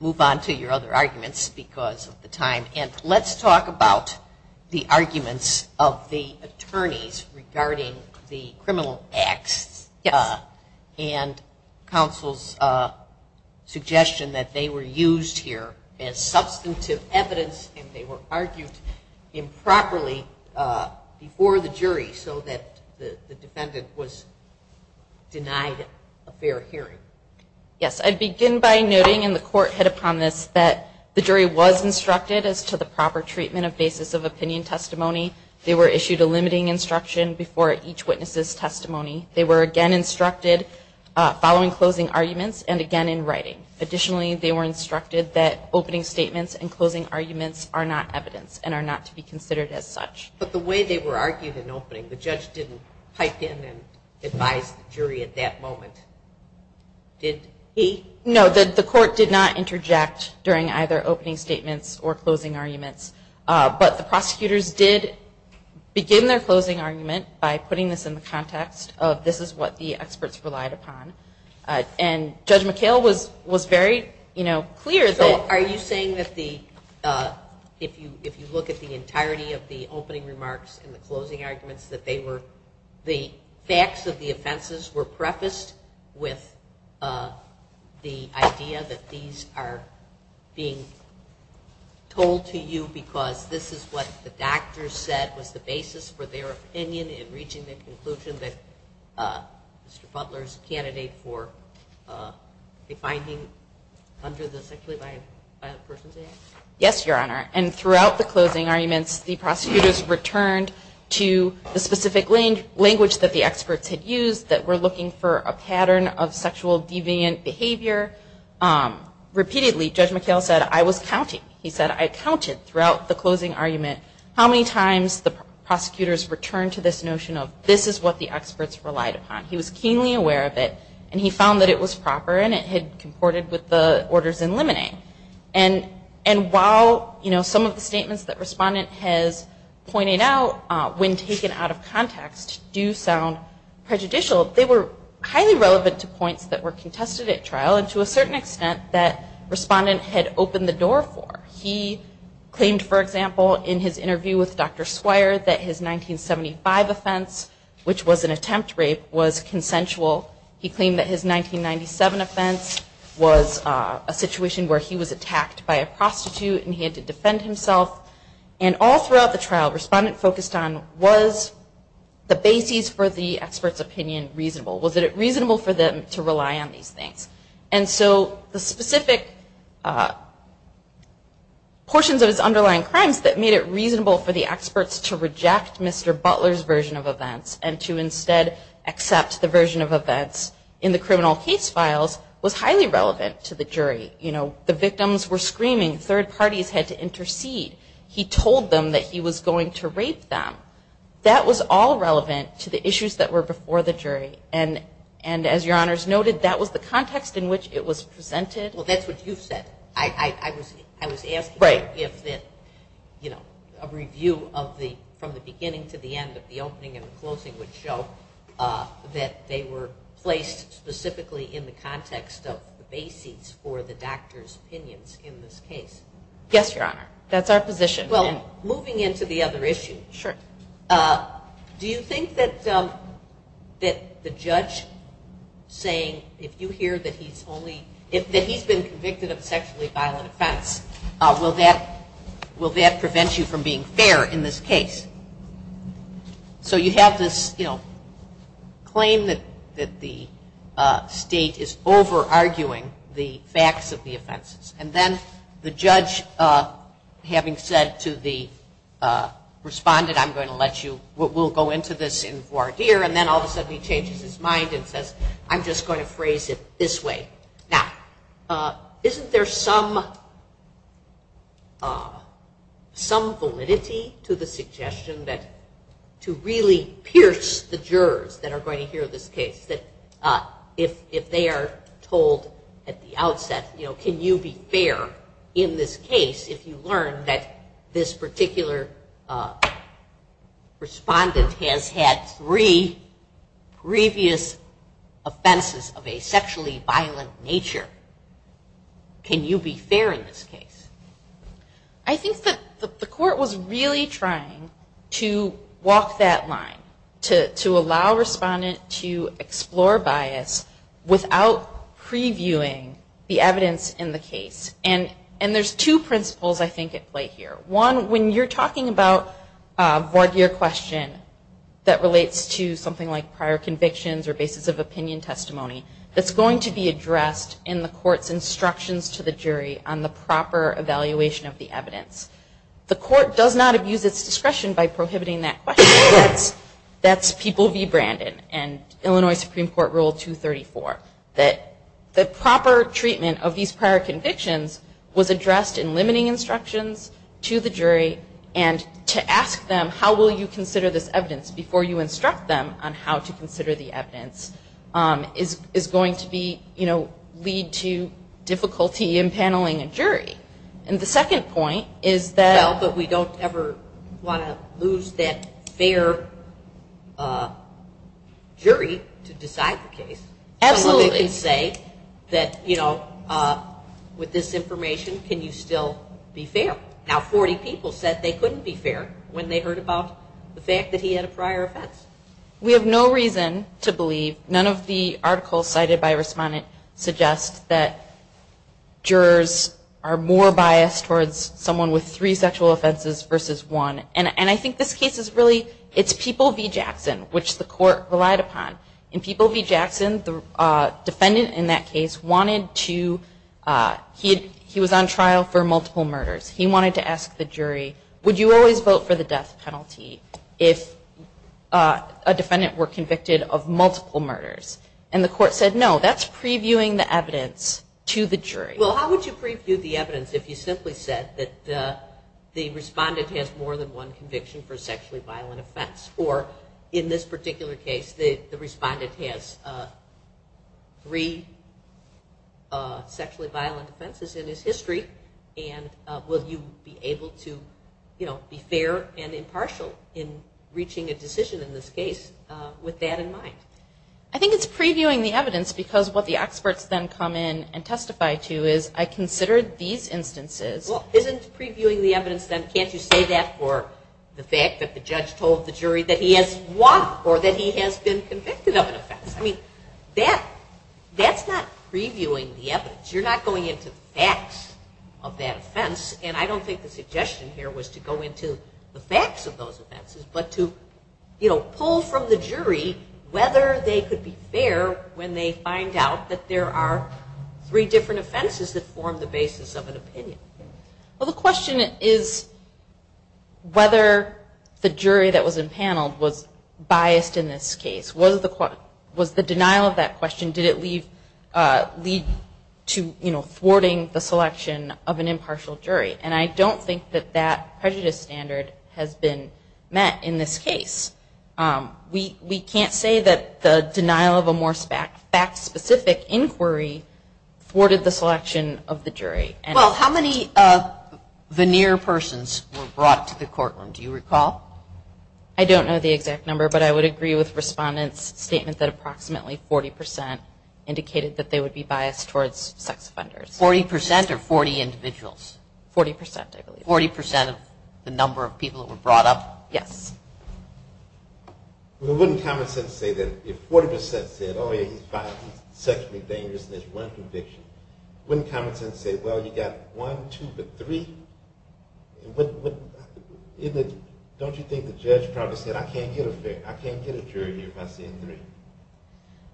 move on to your other arguments because of the time. And let's talk about the arguments of the attorneys regarding the criminal acts. And counsel's suggestion that they were used here as substantive evidence and they were argued improperly before the jury so that the defendant was denied a fair hearing. Yes, I'd begin by noting, and the court hit upon this, that the jury was instructed as to the proper treatment of basis of opinion testimony. They were issued a limiting instruction before each witness' testimony. They were again instructed following closing arguments and again in writing. Additionally, they were instructed that opening statements and closing arguments are not evidence and are not to be considered as such. But the way they were argued in opening, the judge didn't pipe in and advise the jury at that moment, did he? No, the court did not interject during either opening statements or closing arguments. But the prosecutors did begin their closing argument by putting this in the context of this is what the experts relied upon. And Judge McHale was very clear. So are you saying that if you look at the entirety of the opening remarks and the closing arguments, that the facts of the offenses were prefaced with the idea that these are being told to you because this is what the doctors said was the basis for their opinion in reaching the conclusion that Mr. Butler's candidate for a finding under the sexually violent persons act? Yes, Your Honor. And throughout the closing arguments, the prosecutors returned to the specific language that the experts had used that we're looking for a pattern of sexual deviant behavior. Repeatedly, Judge McHale said, I was counting. And he found that it was proper and it had comported with the orders in limine. And while some of the statements that Respondent has pointed out, when taken out of context, do sound prejudicial, they were highly relevant to points that were contested at trial and to a certain extent that Respondent had opened the door for. He claimed, for example, in his interview with Dr. Swire, that his 1975 offense, which was an attempt rape, was consensual. He claimed that his 1997 offense was a situation where he was attacked by a prostitute and he had to defend himself. And all throughout the trial, Respondent focused on, was the basis for the expert's opinion reasonable? Was it reasonable for them to rely on these things? And so the specific portions of his underlying crimes that made it reasonable for the experts to reject Mr. Butler's version of events and to instead accept the version of events in the criminal case files was highly relevant to the jury. The victims were screaming, third parties had to intercede. He told them that he was going to rape them. That was all relevant to the issues that were before the jury. And as Your Honor has noted, that was the context in which it was presented. Well, that's what you've said. I was asking if a review from the beginning to the end of the opening and closing would show that they were placed specifically in the context of the basis for the doctor's opinions in this case. Yes, Your Honor. That's our position. Well, moving into the other issue, do you think that the judge saying, if you hear that he's been convicted of a sexually violent offense, will that prevent you from being fair in this case? So you have this claim that the state is over-arguing the facts of the offenses. And then the judge having said to the respondent, I'm going to let you, we'll go into this in voir dire, and then all of a sudden he changes his mind and says, I'm just going to phrase it this way. Now, isn't there some validity to the suggestion that to really pierce the jurors that are going to hear this case? That if they are told at the outset, you know, can you be fair in this case if you learn that this particular respondent has had three previous offenses of a sexually violent nature, can you be fair in this case? I think that the court was really trying to walk that line. To allow respondent to explore bias without previewing the evidence in the case. And there's two principles I think at play here. One, when you're talking about a voir dire question that relates to something like prior convictions or basis of opinion testimony, that's going to be addressed in the court's instructions to the jury on the proper evaluation of the evidence. The court does not abuse its discretion by prohibiting that question, that's people v. Brandon and Illinois Supreme Court Rule 234. That the proper treatment of these prior convictions was addressed in limiting instructions to the jury and to ask them how will you consider this evidence before you instruct them on how to consider the evidence is going to be, you know, lead to difficulty in handling a jury. And the second point is that... Well, but we don't ever want to lose that fair jury to decide the case. Absolutely. Someone can say that, you know, with this information, can you still be fair? Now 40 people said they couldn't be fair when they heard about the fact that he had a prior offense. We have no reason to believe, none of the articles cited by respondent suggest that jurors are more biased towards someone with three sexual offenses versus one. And I think this case is really, it's people v. Jackson, which the court relied upon. In people v. Jackson, the defendant in that case wanted to, he was on trial for multiple murders. He wanted to ask the jury, would you always vote for the death penalty if a defendant were convicted of multiple murders? And the court said no, that's previewing the evidence to the jury. Well, how would you preview the evidence if you simply said that the respondent has more than one conviction for a sexually violent offense? Or in this particular case, the respondent has three sexually violent offenses in his history. And will you be able to, you know, be fair and impartial in reaching a decision in this case with that in mind? I think it's previewing the evidence because what the experts then come in and testify to is, I considered these instances. Well, isn't previewing the evidence then, can't you say that for the fact that the judge told the jury that the defendant was convicted of an offense? I mean, that's not previewing the evidence. You're not going into the facts of that offense, and I don't think the suggestion here was to go into the facts of those offenses, but to pull from the jury whether they could be fair when they find out that there are three different offenses that form the basis of an opinion. Well, the question is whether the jury that was empaneled was biased in this case. Was the denial of that question, did it lead to, you know, thwarting the selection of an impartial jury? And I don't think that that prejudice standard has been met in this case. We can't say that the denial of a more fact-specific inquiry thwarted the selection of the jury. Well, how many veneer persons were brought to the courtroom, do you recall? I don't know the exact number, but I would agree with Respondent's statement that approximately 40% indicated that they would be biased towards sex offenders. 40% or 40 individuals? 40%, I believe. The number of people that were brought up, yes. Wouldn't common sense say that if 40% said, oh, yeah, he's biased, he's sexually dangerous, and there's one conviction, wouldn't common sense say, well, you've got one, two, but three? Don't you think the judge probably said, I can't get a jury here by saying three?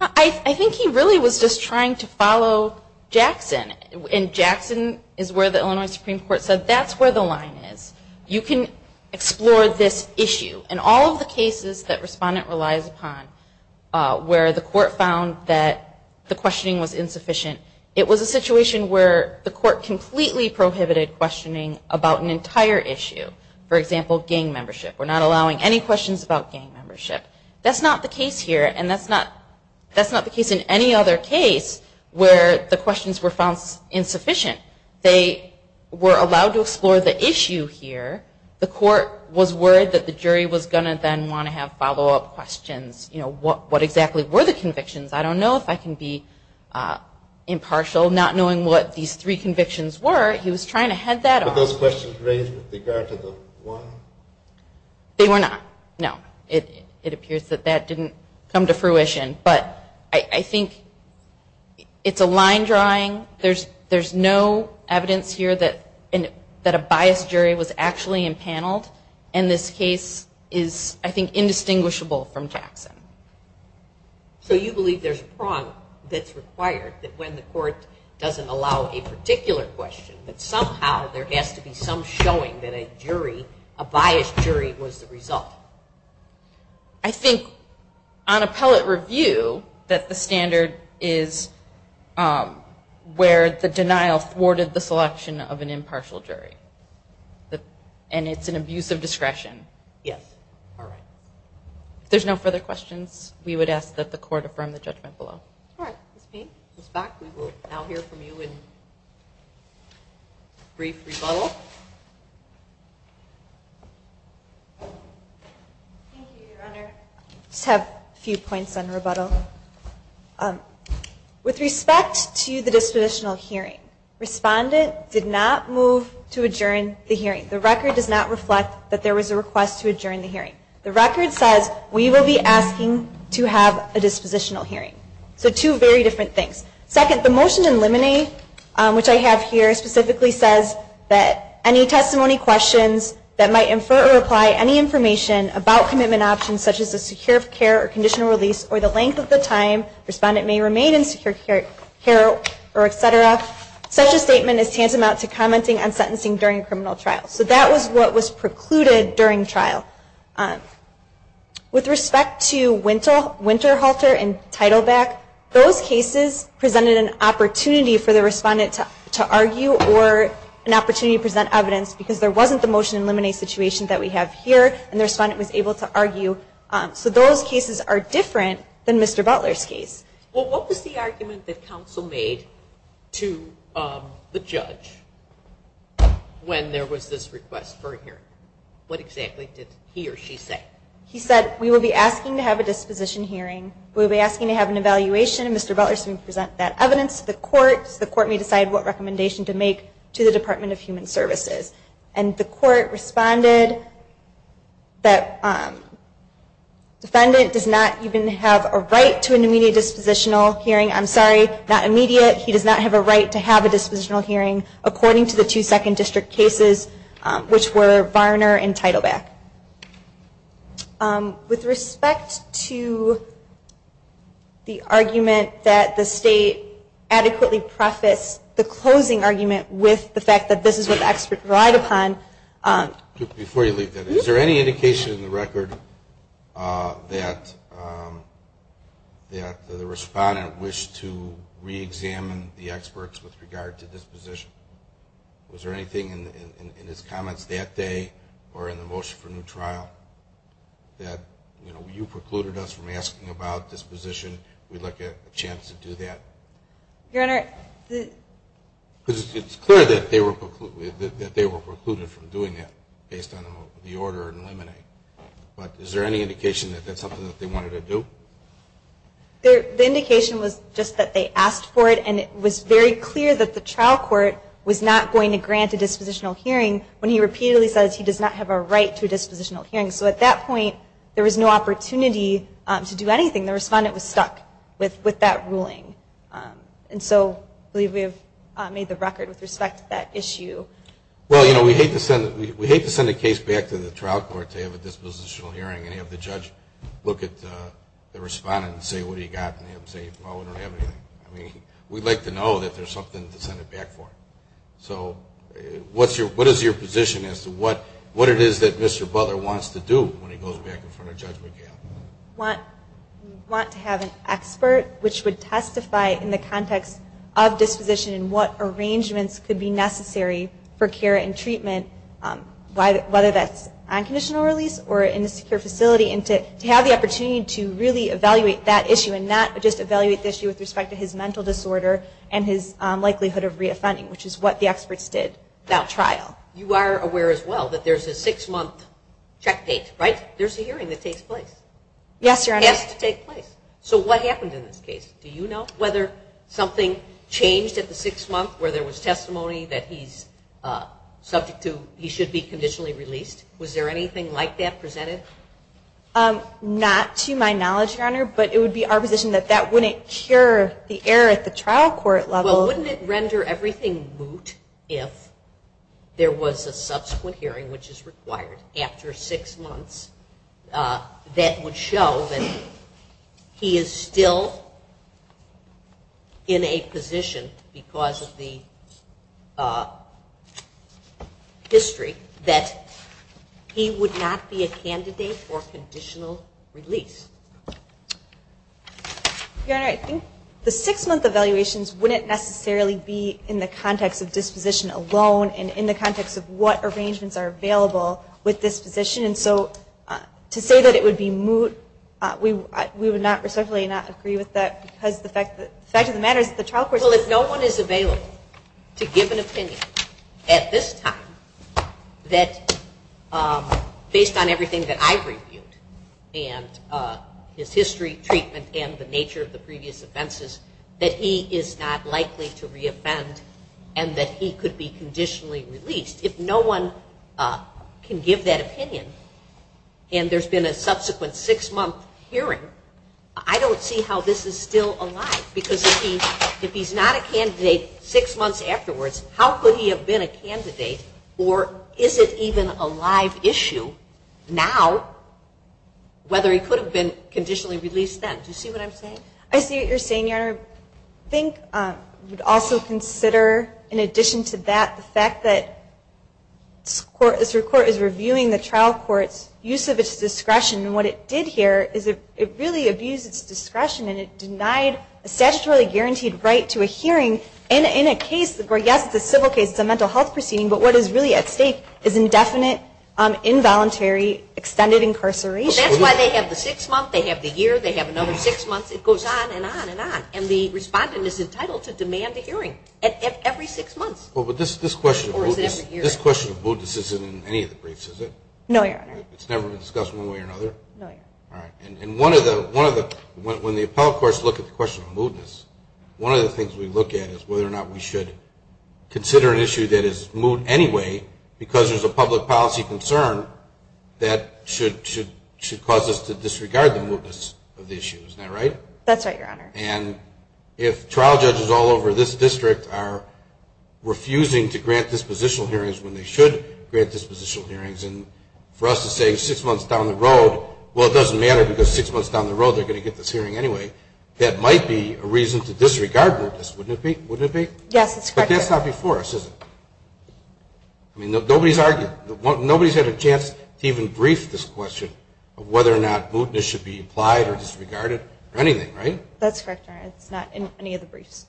I think he really was just trying to follow Jackson, and Jackson is where the Illinois Supreme Court said, that's where the line is. You can explore this issue in all of the cases that Respondent relies upon, where the court found that the questioning was insufficient. It was a situation where the court completely prohibited questioning about an entire issue, for example, gang membership. We're not allowing any questions about gang membership. That's not the case here, and that's not the case in any other case where the questions were found insufficient. They were allowed to explore the issue here, the court was worried that the jury was going to then want to have follow-up questions, what exactly were the convictions? I don't know if I can be impartial, not knowing what these three convictions were, he was trying to head that off. Were those questions raised with regard to the one? They were not, no. It appears that that didn't come to fruition, but I think it's a line drawing, there's no evidence here that a biased jury was actually impaneled, and this case is, I think, indistinguishable from Jackson. So you believe there's a prong that's required, that when the court doesn't allow a particular question, that somehow there has to be some showing that a jury, a biased jury was the result? I think on appellate review, that the standard is where the denial thwarted the selection of an impartial jury, and it's an abuse of discretion. Yes. All right. If there's no further questions, we would ask that the court affirm the judgment below. Thank you, Your Honor. With respect to the dispositional hearing, respondent did not move to adjourn the hearing. The record does not reflect that there was a request to adjourn the hearing. The record says we will be asking to have a dispositional hearing. So two very different things. Second, the motion in limine, which I have here, specifically says that any testimony questions that might infer or apply any information about commitment options, such as a secure care or conditional release, or the length of the time respondent may remain in secure care, et cetera, such a statement is tantamount to commenting on sentencing during a criminal trial. So that was what was precluded during trial. With respect to Winterhalter and Teitelbach, those cases presented an opportunity for the respondent to argue or an opportunity to present evidence, because there wasn't the motion in limine situation that we have here, and the respondent was able to argue. So those cases are different than Mr. Butler's case. Well, what was the argument that counsel made to the judge when there was this request for a hearing? What exactly did he or she say? He said we will be asking to have a disposition hearing. We will be asking to have an evaluation, and Mr. Butler is going to present that evidence to the court, so the court may decide what recommendation to make to the Department of Human Services. And the court responded that defendant does not even have a right to an immediate dispositional hearing. I'm sorry, not immediate. He does not have a right to have a dispositional hearing, according to the two second district cases, which were Varner and Teitelbach. With respect to the argument that the state adequately prefaced the closing argument with the fact that this is what the expert relied upon, Before you leave that, is there any indication in the record that the respondent wished to reexamine the experts with regard to disposition? Was there anything in his comments that day, or in the motion for new trial, that you precluded us from asking about disposition, we'd like a chance to do that? Your Honor, the... Because it's clear that they were precluded from doing that, based on the order in limine. But is there any indication that that's something that they wanted to do? The indication was just that they asked for it, and it was very clear that the trial court was not going to grant a dispositional hearing when he repeatedly says he does not have a right to a dispositional hearing. So at that point, there was no opportunity to do anything. The judge did not have a right to a dispositional hearing. And so I believe we have made the record with respect to that issue. Well, you know, we hate to send a case back to the trial court to have a dispositional hearing and have the judge look at the respondent and say, what do you got? And they have to say, well, we don't have anything. I mean, we'd like to know that there's something to send it back for. So what is your position as to what it is that Mr. Butler wants to do when he goes back in front of Judge McGill? We want to have an expert which would testify in the context of disposition and what arrangements could be necessary for care and treatment, whether that's on conditional release or in a secure facility, and to have the opportunity to really evaluate that issue and not just evaluate the issue with respect to his mental disorder and his likelihood of reoffending, which is what the experts did at trial. You are aware as well that there's a six-month checkpate, right? There's a hearing that takes place. Yes, Your Honor. It has to take place. So what happened in this case? Do you know whether something changed at the six-month where there was testimony that he's subject to, he should be conditionally released? Was there anything like that presented? Not to my knowledge, Your Honor, but it would be our position that that wouldn't cure the error at the trial court level. Well, wouldn't it render everything moot if there was a subsequent hearing, which is required after six months, that would show that he is still in a position because of the history that he would not be a candidate for conditional release? Your Honor, I think the six-month evaluations wouldn't necessarily be in the context of disposition alone and in the context of what happened at the trial court level. Well, if no one is available to give an opinion at this time that, based on everything that I've reviewed and his history, treatment, and the nature of the previous offenses, that he is not likely to reoffend and that he could be conditionally released, if no one can give that opinion and there's been a subsequent six-month hearing, I don't see how this is still alive. Because if he's not a candidate six months afterwards, how could he have been a candidate or is it even a live issue now, whether he could have been conditionally released then? Do you see what I'm saying? I see what you're saying, Your Honor. I think we'd also consider, in addition to that, the fact that this Court is reviewing the trial court's use of its discretion. And what it did here is it really abused its discretion and it denied a statutorily guaranteed right to a hearing in a case where, yes, it's a civil case, it's a mental health proceeding, but what is really at stake is indefinite, involuntary, extended incarceration. That's why they have the six-month, they have the year, they have another six months, it goes on and on and on. And the respondent is entitled to demand a hearing every six months. This question of moodness isn't in any of the briefs, is it? No, Your Honor. It's never been discussed in one way or another? No, Your Honor. And when the appellate courts look at the question of moodness, one of the things we look at is whether or not we should consider an issue of policy concern that should cause us to disregard the moodness of the issue. Isn't that right? That's right, Your Honor. And if trial judges all over this district are refusing to grant dispositional hearings when they should grant dispositional hearings, and for us to say six months down the road, well, it doesn't matter because six months down the road they're going to get this hearing anyway, that might be a reason to disregard moodness, wouldn't it be? Yes, it's correct, Your Honor. But that's not before us, is it? I mean, nobody's argued. Nobody's had a chance to even brief this question of whether or not moodness should be applied or disregarded or anything, right? That's correct, Your Honor. It's not in any of the briefs.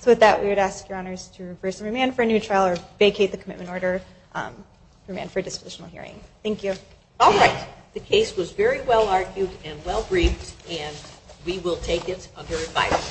So with that, we would ask Your Honors to remain for a new trial or vacate the commitment order, remain for a dispositional hearing. Thank you. All right. The case was very well argued and well briefed, and we will take it under advice.